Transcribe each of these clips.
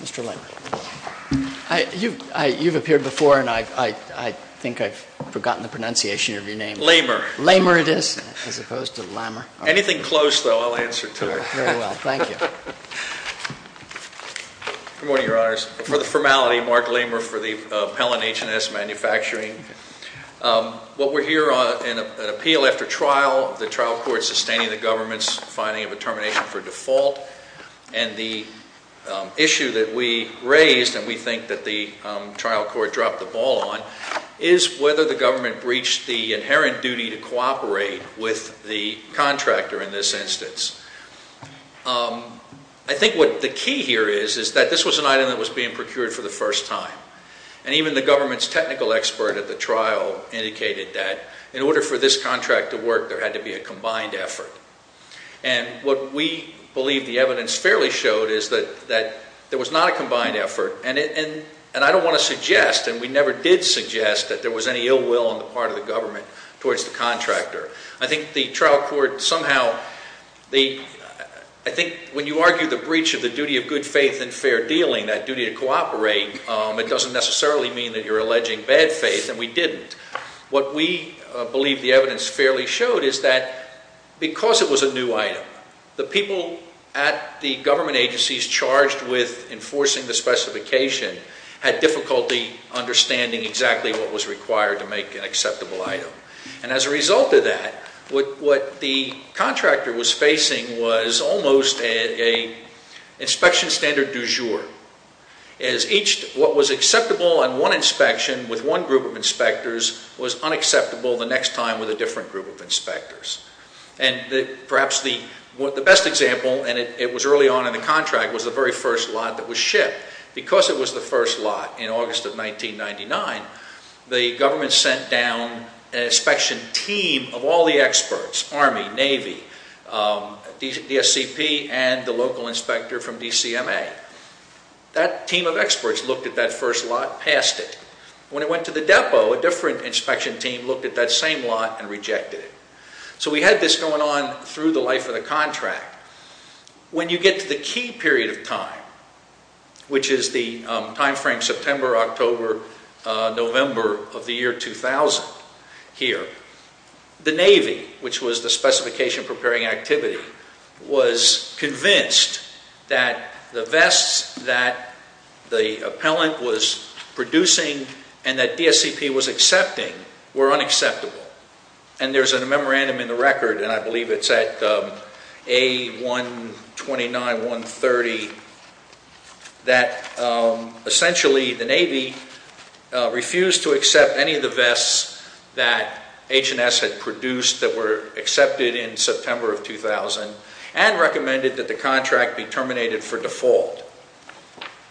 Mr. Lamer. You've appeared before, and I think I've forgotten the pronunciation of your name. Lamer. Lamer it is, as opposed to Lamer. Anything close, though, I'll answer to it. Very well. Thank you. Good morning, Your Honors. For the formality, Mark Lamer for the Appellant, H&S Manufacturing. What we're here on is an appeal after trial, the trial court sustaining the government's finding of a termination for default, and the issue that we raised, and we think that the trial court dropped the ball on, is whether the government breached the inherent duty to cooperate with the contractor in this instance. I think what the key here is, is that this was an item that was being procured for the first time, and even the government's technical expert at the trial indicated that in order for this contract to work, there had to be a combined effort. And what we believe the evidence fairly showed is that there was not a combined effort, and I don't want to suggest, and we never did suggest, that there was any ill will on the part of the government towards the contractor. I think the trial court somehow, I think when you argue the breach of the duty of good faith and fair dealing, that duty to cooperate, it doesn't necessarily mean that you're alleging bad faith, and we didn't. What we believe the evidence fairly showed is that because it was a new item, the people at the government agencies charged with enforcing the specification had difficulty understanding exactly what was required to make an acceptable item. And as a result of that, what the contractor was facing was almost an inspection standard du jour. What was acceptable on one inspection with one group of inspectors was unacceptable the next time with a different group of inspectors. And perhaps the best example, and it was early on in the contract, was the very first lot that was shipped. Because it was the first lot in August of 1999, the government sent down an inspection team of all the experts, Army, Navy, DSCP, and the local inspector from DCMA. That team of experts looked at that first lot, passed it. When it went to the depot, a different inspection team looked at that same lot and rejected it. So we had this going on through the life of the contract. When you get to the key period of time, which is the time frame September, October, November of the year 2000 here, the Navy, which was the specification preparing activity, was convinced that the vests that the appellant was producing and that DSCP was accepting were unacceptable. And there's a memorandum in the record, and I believe it's at A129-130, that essentially the Navy refused to accept any of the vests that H&S had produced that were accepted in September of 2000 and recommended that the contract be terminated for default.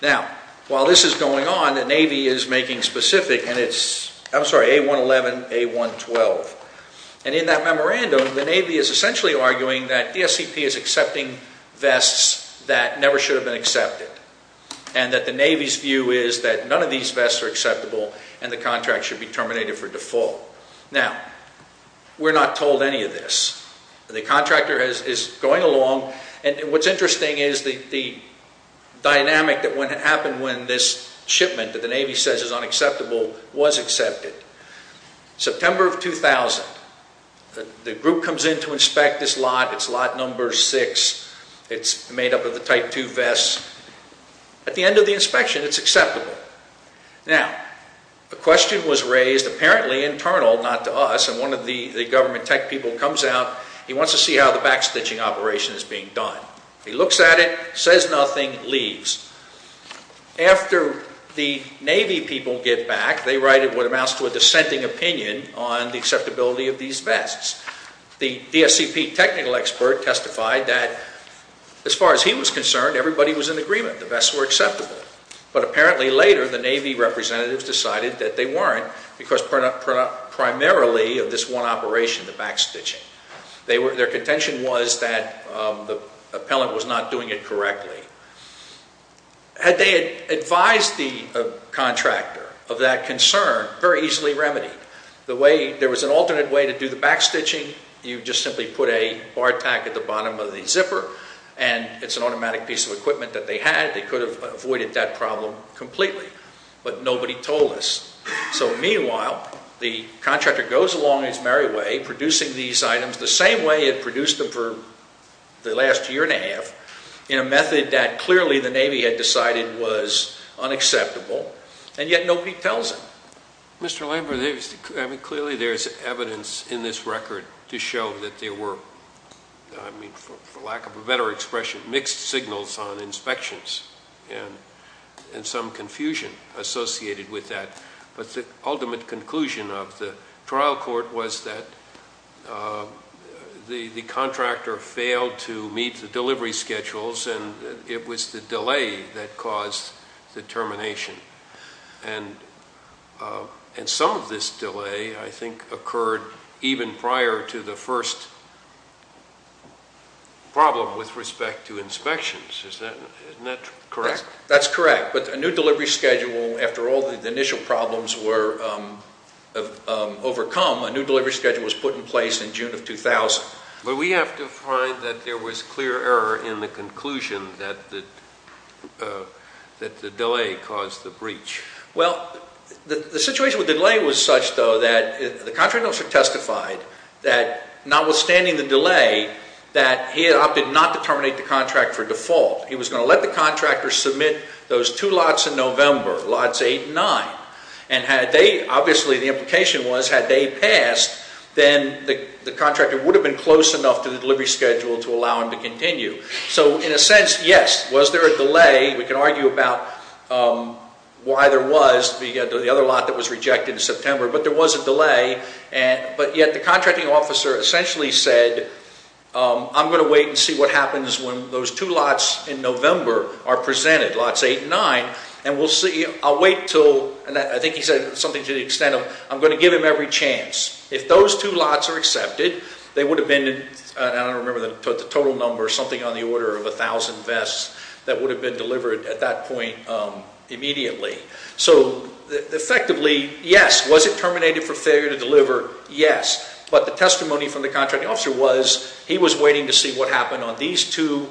Now, while this is going on, the Navy is making specific, and it's, I'm sorry, A111, A112. And in that memorandum, the Navy is essentially arguing that DSCP is accepting vests that never should have been accepted and that the Navy's view is that none of these vests are acceptable and the contract should be terminated for default. Now, we're not told any of this. The contractor is going along. And what's interesting is the dynamic that happened when this shipment that the Navy says is unacceptable was accepted. September of 2000, the group comes in to inspect this lot. It's lot number six. It's made up of the Type II vests. At the end of the inspection, it's acceptable. Now, a question was raised, apparently internal, not to us, and one of the government tech people comes out. He wants to see how the backstitching operation is being done. He looks at it, says nothing, leaves. After the Navy people get back, they write what amounts to a dissenting opinion on the acceptability of these vests. The DSCP technical expert testified that as far as he was concerned, everybody was in agreement. The vests were acceptable. But apparently later, the Navy representatives decided that they weren't because primarily of this one operation, the backstitching. Their contention was that the appellant was not doing it correctly. Had they advised the contractor of that concern, very easily remedied. There was an alternate way to do the backstitching. You just simply put a bar tack at the bottom of the zipper and it's an automatic piece of equipment that they had. They could have avoided that problem completely. But nobody told us. So meanwhile, the contractor goes along his merry way, producing these items the same way he had produced them for the last year and a half, in a method that clearly the Navy had decided was unacceptable, and yet nobody tells him. Mr. Lambert, clearly there's evidence in this record to show that there were, for lack of a better expression, mixed signals on inspections and some confusion associated with that. But the ultimate conclusion of the trial court was that the contractor failed to meet the delivery schedules and it was the delay that caused the termination. And some of this delay, I think, occurred even prior to the first problem with respect to inspections. Isn't that correct? That's correct. But a new delivery schedule, after all the initial problems were overcome, a new delivery schedule was put in place in June of 2000. But we have to find that there was clear error in the conclusion that the delay caused the breach. Well, the situation with the delay was such, though, that the contractor also testified that, notwithstanding the delay, that he had opted not to terminate the contract for default. He was going to let the contractor submit those two lots in November, lots 8 and 9. And, obviously, the implication was, had they passed, then the contractor would have been close enough to the delivery schedule to allow him to continue. So, in a sense, yes, was there a delay? We can argue about why there was, the other lot that was rejected in September. But there was a delay. But yet the contracting officer essentially said, I'm going to wait and see what happens when those two lots in November are presented, lots 8 and 9, and we'll see, I'll wait until, and I think he said something to the extent of, I'm going to give him every chance. If those two lots are accepted, they would have been, I don't remember the total number, something on the order of 1,000 vests that would have been delivered at that point immediately. So, effectively, yes, was it terminated for failure to deliver? Yes. But the testimony from the contracting officer was, he was waiting to see what happened on these two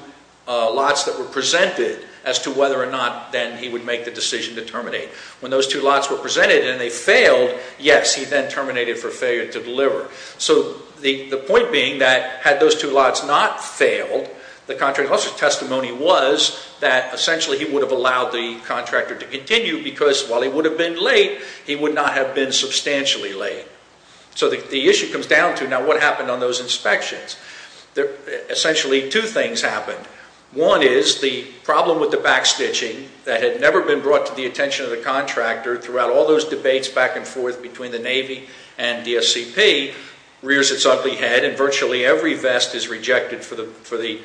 lots that were presented as to whether or not then he would make the decision to terminate. When those two lots were presented and they failed, yes, he then terminated for failure to deliver. So, the point being that had those two lots not failed, the contracting officer's testimony was that, essentially, he would have allowed the contractor to continue because, while he would have been late, he would not have been substantially late. So the issue comes down to, now, what happened on those inspections? Essentially, two things happened. One is the problem with the backstitching that had never been brought to the attention of the contractor throughout all those debates back and forth between the Navy and the SCP rears its ugly head and virtually every vest is rejected for the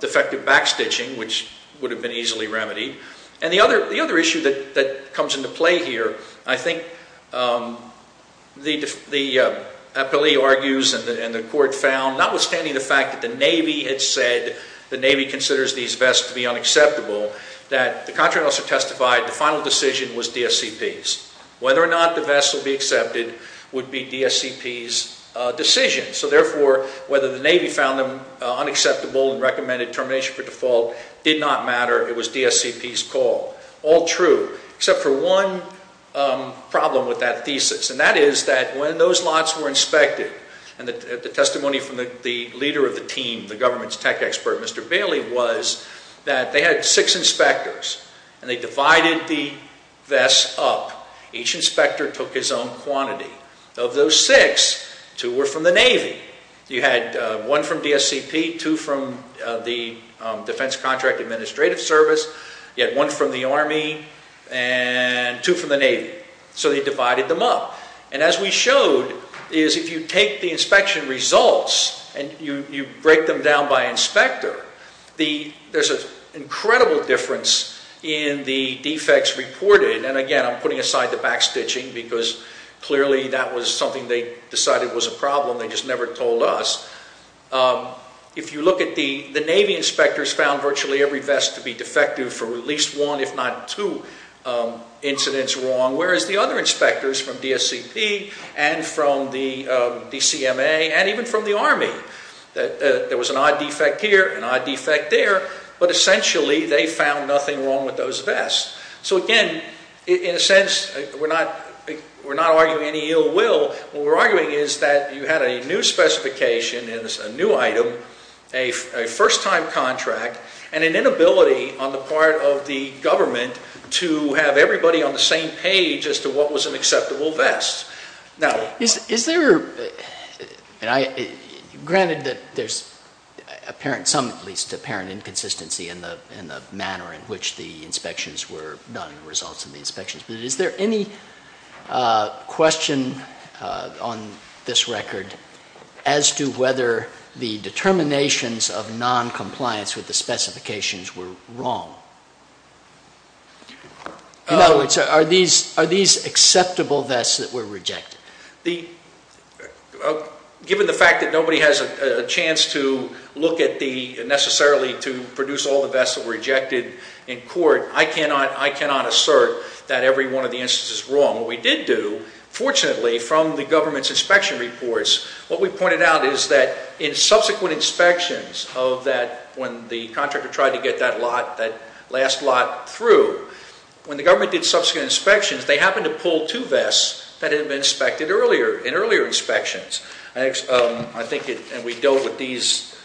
defective backstitching, which would have been easily remedied. And the other issue that comes into play here, I think the appellee argues and the court found, notwithstanding the fact that the Navy had said the Navy considers these vests to be unacceptable, that the contracting officer testified the final decision was DSCP's. Whether or not the vests would be accepted would be DSCP's decision. So, therefore, whether the Navy found them unacceptable and recommended termination for default did not matter. It was DSCP's call. All true, except for one problem with that thesis, and that is that when those lots were inspected and the testimony from the leader of the team, the government's tech expert, Mr. Bailey, was that they had six inspectors and they divided the vests up. Each inspector took his own quantity. Of those six, two were from the Navy. You had one from DSCP, two from the Defense Contract Administrative Service. You had one from the Army and two from the Navy. So they divided them up. And as we showed, if you take the inspection results and you break them down by inspector, there's an incredible difference in the defects reported. And, again, I'm putting aside the backstitching because clearly that was something they decided was a problem, they just never told us. If you look at the Navy inspectors found virtually every vest to be defective for at least one, if not two, incidents wrong, whereas the other inspectors from DSCP and from the DCMA and even from the Army, there was an odd defect here, an odd defect there, but essentially they found nothing wrong with those vests. So, again, in a sense we're not arguing any ill will. What we're arguing is that you had a new specification and a new item, a first-time contract, and an inability on the part of the government to have everybody on the same page as to what was an acceptable vest. Now, is there, granted that there's apparent, some at least, apparent inconsistency in the manner in which the inspections were done, the results of the inspections, but is there any question on this record as to whether the determinations of noncompliance with the specifications were wrong? In other words, are these acceptable vests that were rejected? Given the fact that nobody has a chance to look at the, necessarily, to produce all the vests that were rejected in court, I cannot assert that every one of the instances is wrong. What we did do, fortunately, from the government's inspection reports, what we pointed out is that in subsequent inspections of that, when the contractor tried to get that lot, that last lot through, when the government did subsequent inspections, they happened to pull two vests that had been inspected earlier, in earlier inspections. I think it, and we dealt with these,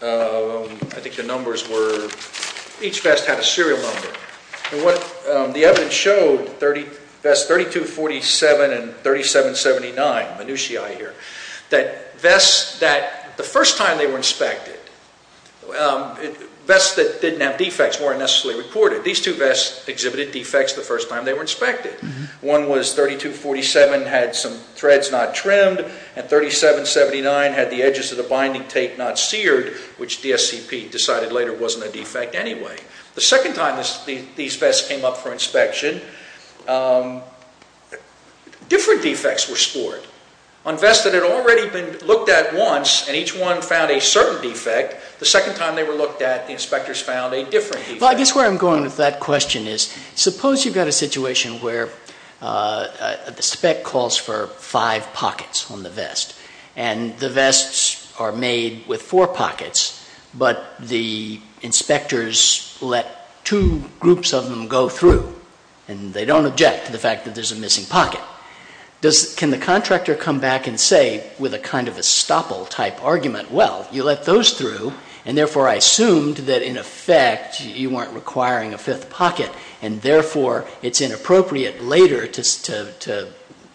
I think the numbers were, each vest had a serial number. The evidence showed vest 3247 and 3779, minutiae here, that vests that the first time they were inspected, vests that didn't have defects weren't necessarily reported. These two vests exhibited defects the first time they were inspected. One was 3247, had some threads not trimmed, and 3779 had the edges of the binding tape not seared, which DSCP decided later wasn't a defect anyway. The second time these vests came up for inspection, different defects were scored. On vests that had already been looked at once, and each one found a certain defect, the second time they were looked at, the inspectors found a different defect. Well, I guess where I'm going with that question is, suppose you've got a situation where the spec calls for five pockets on the vest, and the vests are made with four pockets, but the inspectors let two groups of them go through, and they don't object to the fact that there's a missing pocket. Can the contractor come back and say with a kind of estoppel type argument, well, you let those through, and therefore I assumed that in effect you weren't requiring a fifth pocket, and therefore it's inappropriate later to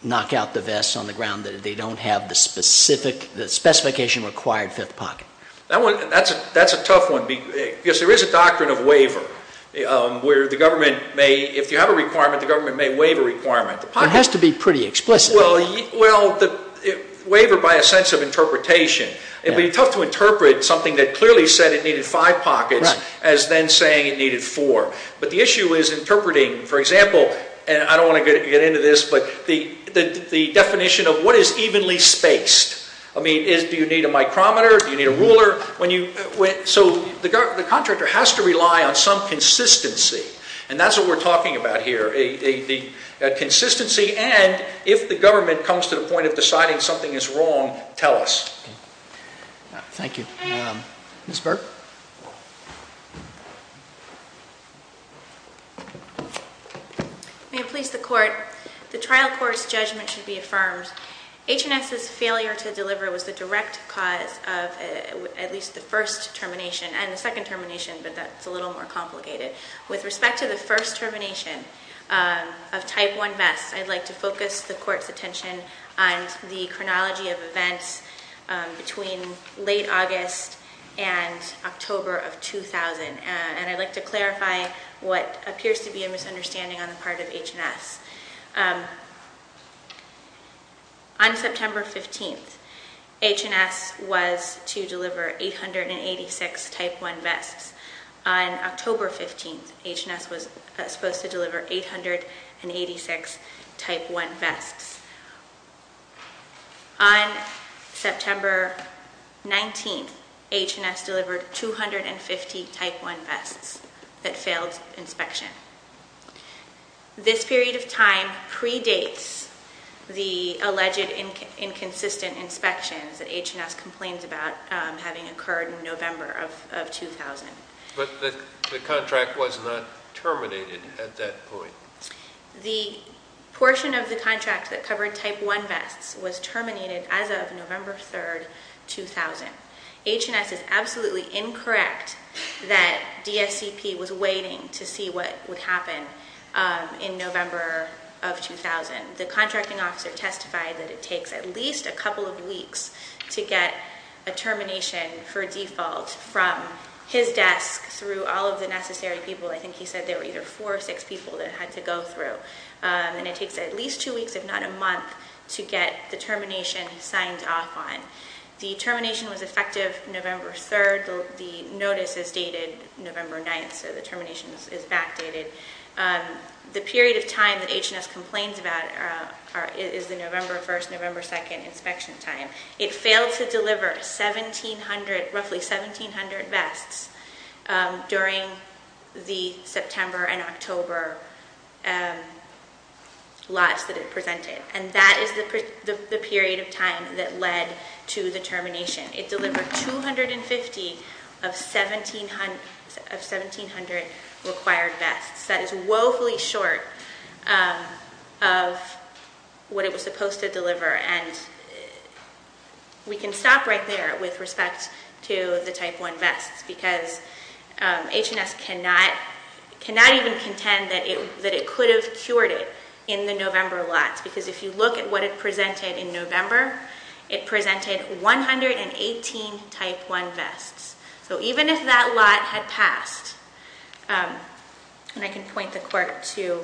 knock out the vests on the ground that they don't have the specification required fifth pocket. That's a tough one because there is a doctrine of waiver where if you have a requirement, the government may waive a requirement. It has to be pretty explicit. Well, waiver by a sense of interpretation. It would be tough to interpret something that clearly said it needed five pockets as then saying it needed four. But the issue is interpreting, for example, and I don't want to get into this, but the definition of what is evenly spaced. I mean, do you need a micrometer? Do you need a ruler? So the contractor has to rely on some consistency, and that's what we're talking about here, a consistency and if the government comes to the point of deciding something is wrong, tell us. Thank you. Ms. Burke. May it please the Court, the trial court's judgment should be affirmed. H&S's failure to deliver was the direct cause of at least the first termination and the second termination, but that's a little more complicated. With respect to the first termination of Type 1 vests, I'd like to focus the Court's attention on the chronology of events between late August and October of 2000, and I'd like to clarify what appears to be a misunderstanding on the part of H&S. On September 15th, H&S was to deliver 886 Type 1 vests. On October 15th, H&S was supposed to deliver 886 Type 1 vests. On September 19th, H&S delivered 250 Type 1 vests that failed inspection. This period of time predates the alleged inconsistent inspections that H&S complains about having occurred in November of 2000. But the contract was not terminated at that point. The portion of the contract that covered Type 1 vests was terminated as of November 3rd, 2000. H&S is absolutely incorrect that DSCP was waiting to see what would happen in November of 2000. The contracting officer testified that it takes at least a couple of weeks to get a termination for default from his desk through all of the necessary people. I think he said there were either four or six people that had to go through, and it takes at least two weeks, if not a month, to get the termination signed off on. The termination was effective November 3rd. The notice is dated November 9th, so the termination is backdated. The period of time that H&S complains about is the November 1st, November 2nd inspection time. It failed to deliver roughly 1,700 vests during the September and October lots that it presented. And that is the period of time that led to the termination. It delivered 250 of 1,700 required vests. That is woefully short of what it was supposed to deliver. And we can stop right there with respect to the Type 1 vests because H&S cannot even contend that it could have cured it in the November lots because if you look at what it presented in November, it presented 118 Type 1 vests. So even if that lot had passed, and I can point the court to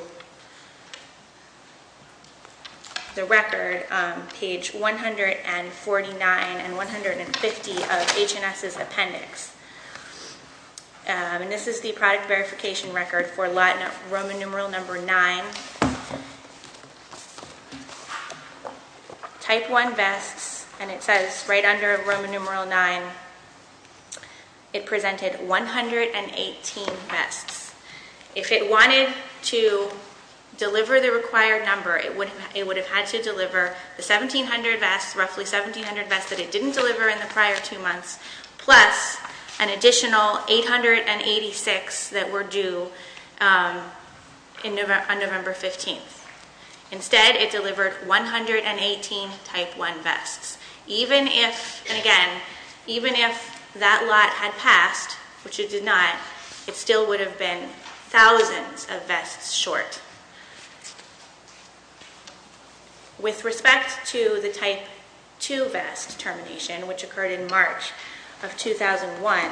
the record, page 149 and 150 of H&S's appendix. And this is the product verification record for Roman numeral number 9. Type 1 vests, and it says right under Roman numeral 9, it presented 118 vests. If it wanted to deliver the required number, it would have had to deliver the 1,700 vests, roughly 1,700 vests that it didn't deliver in the prior two months, plus an additional 886 that were due on November 15th. Instead, it delivered 118 Type 1 vests. Even if, and again, even if that lot had passed, which it did not, it still would have been thousands of vests short. With respect to the Type 2 vest termination, which occurred in March of 2001,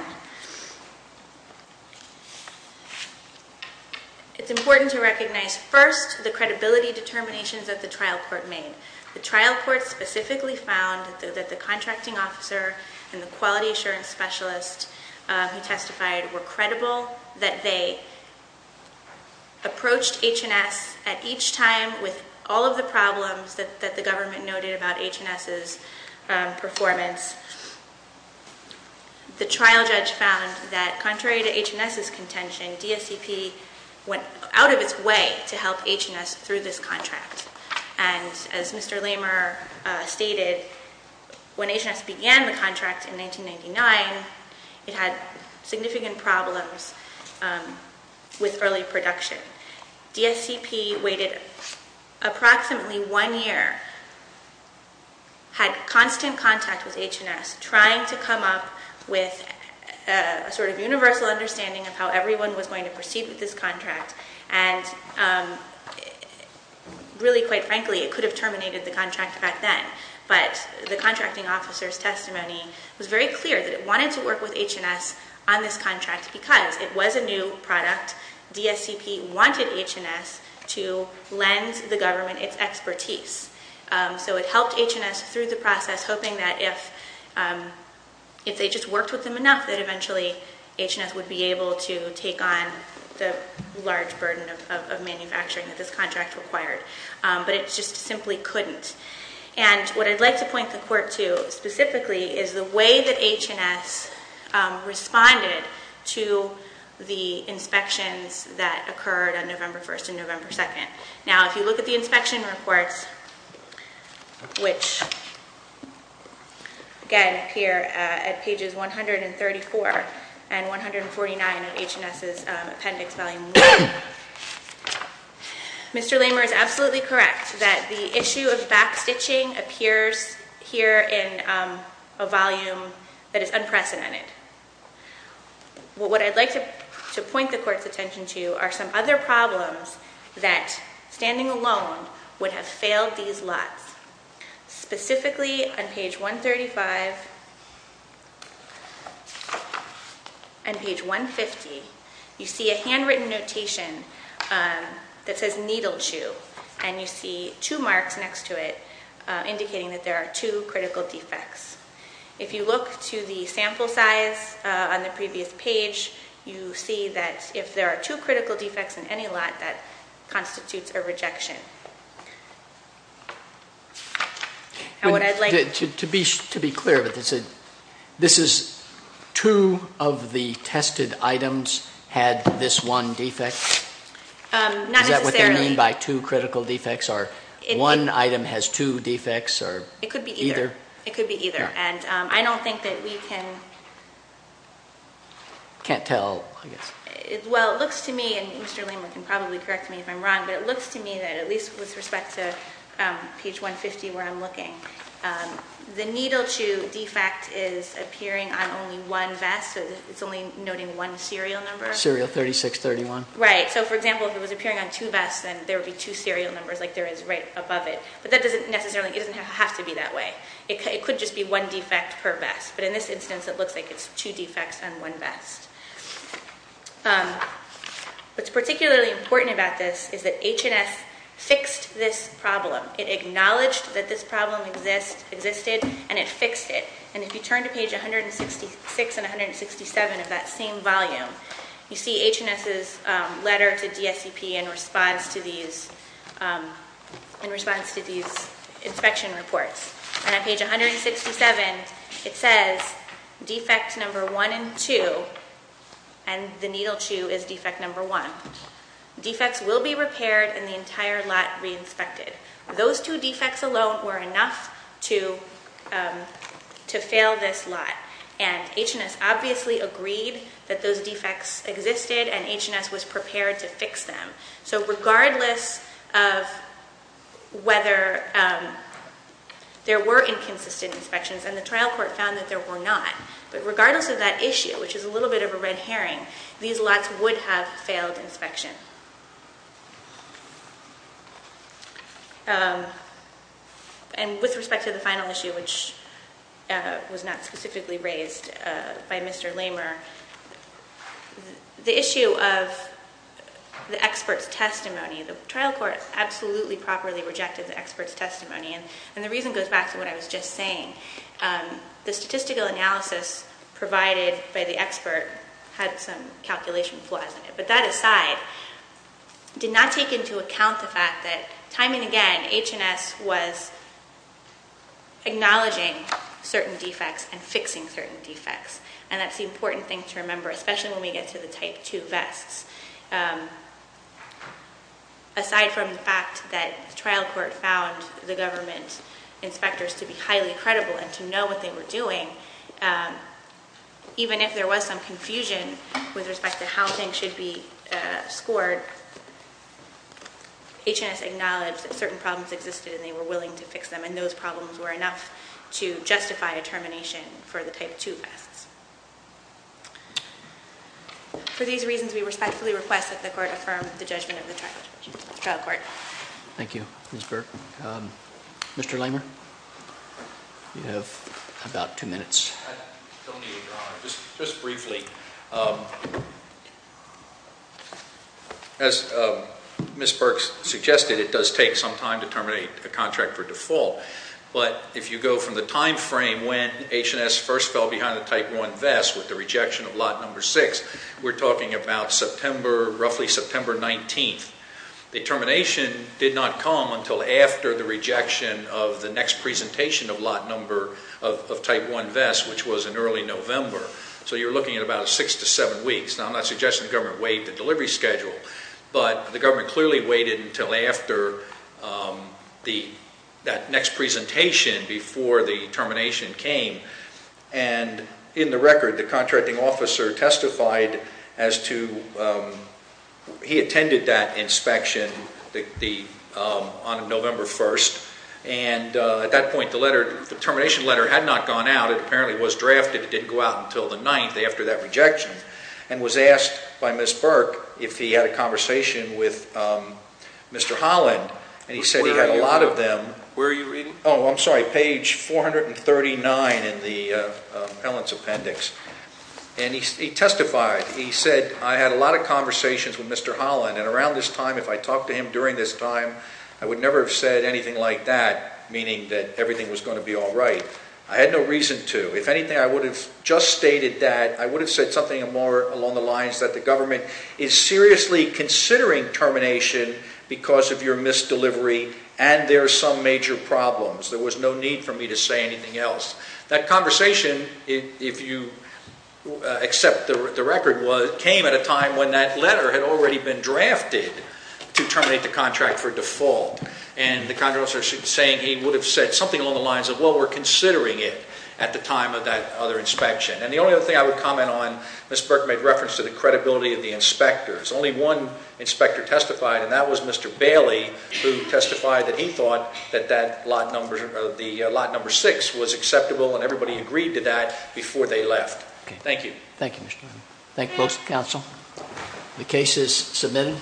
it's important to recognize first the credibility determinations that the trial court made. The trial court specifically found that the contracting officer and the quality assurance specialist who testified were credible, that they approached H&S at each time with all of the problems that the government noted about H&S's performance. The trial judge found that contrary to H&S's contention, DSCP went out of its way to help H&S through this contract. And as Mr. Lamer stated, when H&S began the contract in 1999, it had significant problems with early production. DSCP waited approximately one year, had constant contact with H&S, trying to come up with a sort of universal understanding of how everyone was going to proceed with this contract, and really, quite frankly, it could have terminated the contract back then. But the contracting officer's testimony was very clear that it wanted to work with H&S on this contract because it was a new product. DSCP wanted H&S to lend the government its expertise. So it helped H&S through the process, hoping that if they just worked with them enough, that eventually H&S would be able to take on the large burden of manufacturing that this contract required. But it just simply couldn't. And what I'd like to point the court to, specifically, is the way that H&S responded to the inspections that occurred on November 1st and November 2nd. Now, if you look at the inspection reports, which, again, appear at pages 134 and 149 of H&S's appendix, volume one, Mr. Lamer is absolutely correct that the issue of backstitching appears here in a volume that is unprecedented. What I'd like to point the court's attention to are some other problems that, standing alone, would have failed these lots. Specifically, on page 135 and page 150, you see a handwritten notation that says needle chew, and you see two marks next to it indicating that there are two critical defects. If you look to the sample size on the previous page, you see that if there are two critical defects in any lot, that constitutes a rejection. To be clear, this is two of the tested items had this one defect? Not necessarily. Is that what they mean by two critical defects? Or one item has two defects? It could be either. It could be either. Can't tell, I guess. Well, it looks to me, and Mr. Lamer can probably correct me if I'm wrong, but it looks to me that, at least with respect to page 150 where I'm looking, the needle chew defect is appearing on only one vest, so it's only noting one serial number. Serial 3631. Right. So, for example, if it was appearing on two vests, then there would be two serial numbers, like there is right above it. But that doesn't necessarily have to be that way. It could just be one defect per vest. But in this instance, it looks like it's two defects on one vest. What's particularly important about this is that H&S fixed this problem. It acknowledged that this problem existed, and it fixed it. And if you turn to page 166 and 167 of that same volume, you see H&S's letter to DSCP in response to these inspection reports. And on page 167, it says, defects number one and two, and the needle chew is defect number one. Defects will be repaired and the entire lot re-inspected. Those two defects alone were enough to fail this lot. And H&S obviously agreed that those defects existed, and H&S was prepared to fix them. So regardless of whether there were inconsistent inspections, and the trial court found that there were not, but regardless of that issue, which is a little bit of a red herring, these lots would have failed inspection. And with respect to the final issue, which was not specifically raised by Mr. Lamer, the issue of the expert's testimony, the trial court absolutely properly rejected the expert's testimony. And the reason goes back to what I was just saying. The statistical analysis provided by the expert had some calculation flaws in it. But that aside, did not take into account the fact that, time and again, H&S was acknowledging certain defects and fixing certain defects. And that's the important thing to remember, especially when we get to the Type 2 vests. Aside from the fact that the trial court found the government inspectors to be highly credible and to know what they were doing, even if there was some confusion with respect to how things should be scored, H&S acknowledged that certain problems existed and they were willing to fix them, and those problems were enough to justify a termination for the Type 2 vests. For these reasons, we respectfully request that the court affirm the judgment of the trial court. Thank you, Ms. Burke. Mr. Lamer, you have about two minutes. I don't need to go on. Just briefly. As Ms. Burke suggested, it does take some time to terminate a contract for default. But if you go from the time frame when H&S first fell behind the Type 1 vests with the rejection of Lot No. 6, we're talking about September, roughly September 19th. The termination did not come until after the rejection of the next presentation of Lot No. of Type 1 vests, which was in early November. So you're looking at about six to seven weeks. Now, I'm not suggesting the government wait the delivery schedule, but the government clearly waited until after that next presentation before the termination came. And in the record, the contracting officer testified as to he attended that inspection on November 1st. And at that point, the termination letter had not gone out. It apparently was drafted. It didn't go out until the 9th after that rejection. And was asked by Ms. Burke if he had a conversation with Mr. Holland. And he said he had a lot of them. Where are you reading? Oh, I'm sorry. Page 439 in the Appellant's Appendix. And he testified. He said, I had a lot of conversations with Mr. Holland. And around this time, if I talked to him during this time, I would never have said anything like that, meaning that everything was going to be all right. I had no reason to. If anything, I would have just stated that. I would have said something along the lines that the government is seriously considering termination because of your missed delivery and there are some major problems. There was no need for me to say anything else. That conversation, if you accept the record, came at a time when that letter had already been drafted to terminate the contract for default. And the contractor was saying he would have said something along the lines of, well, we're considering it at the time of that other inspection. And the only other thing I would comment on, Ms. Burke made reference to the credibility of the inspectors. Only one inspector testified, and that was Mr. Bailey, who testified that he thought that lot number 6 was acceptable and everybody agreed to that before they left. Thank you. Thank you, Mr. Holland. Thank you, folks. Counsel. The case is submitted.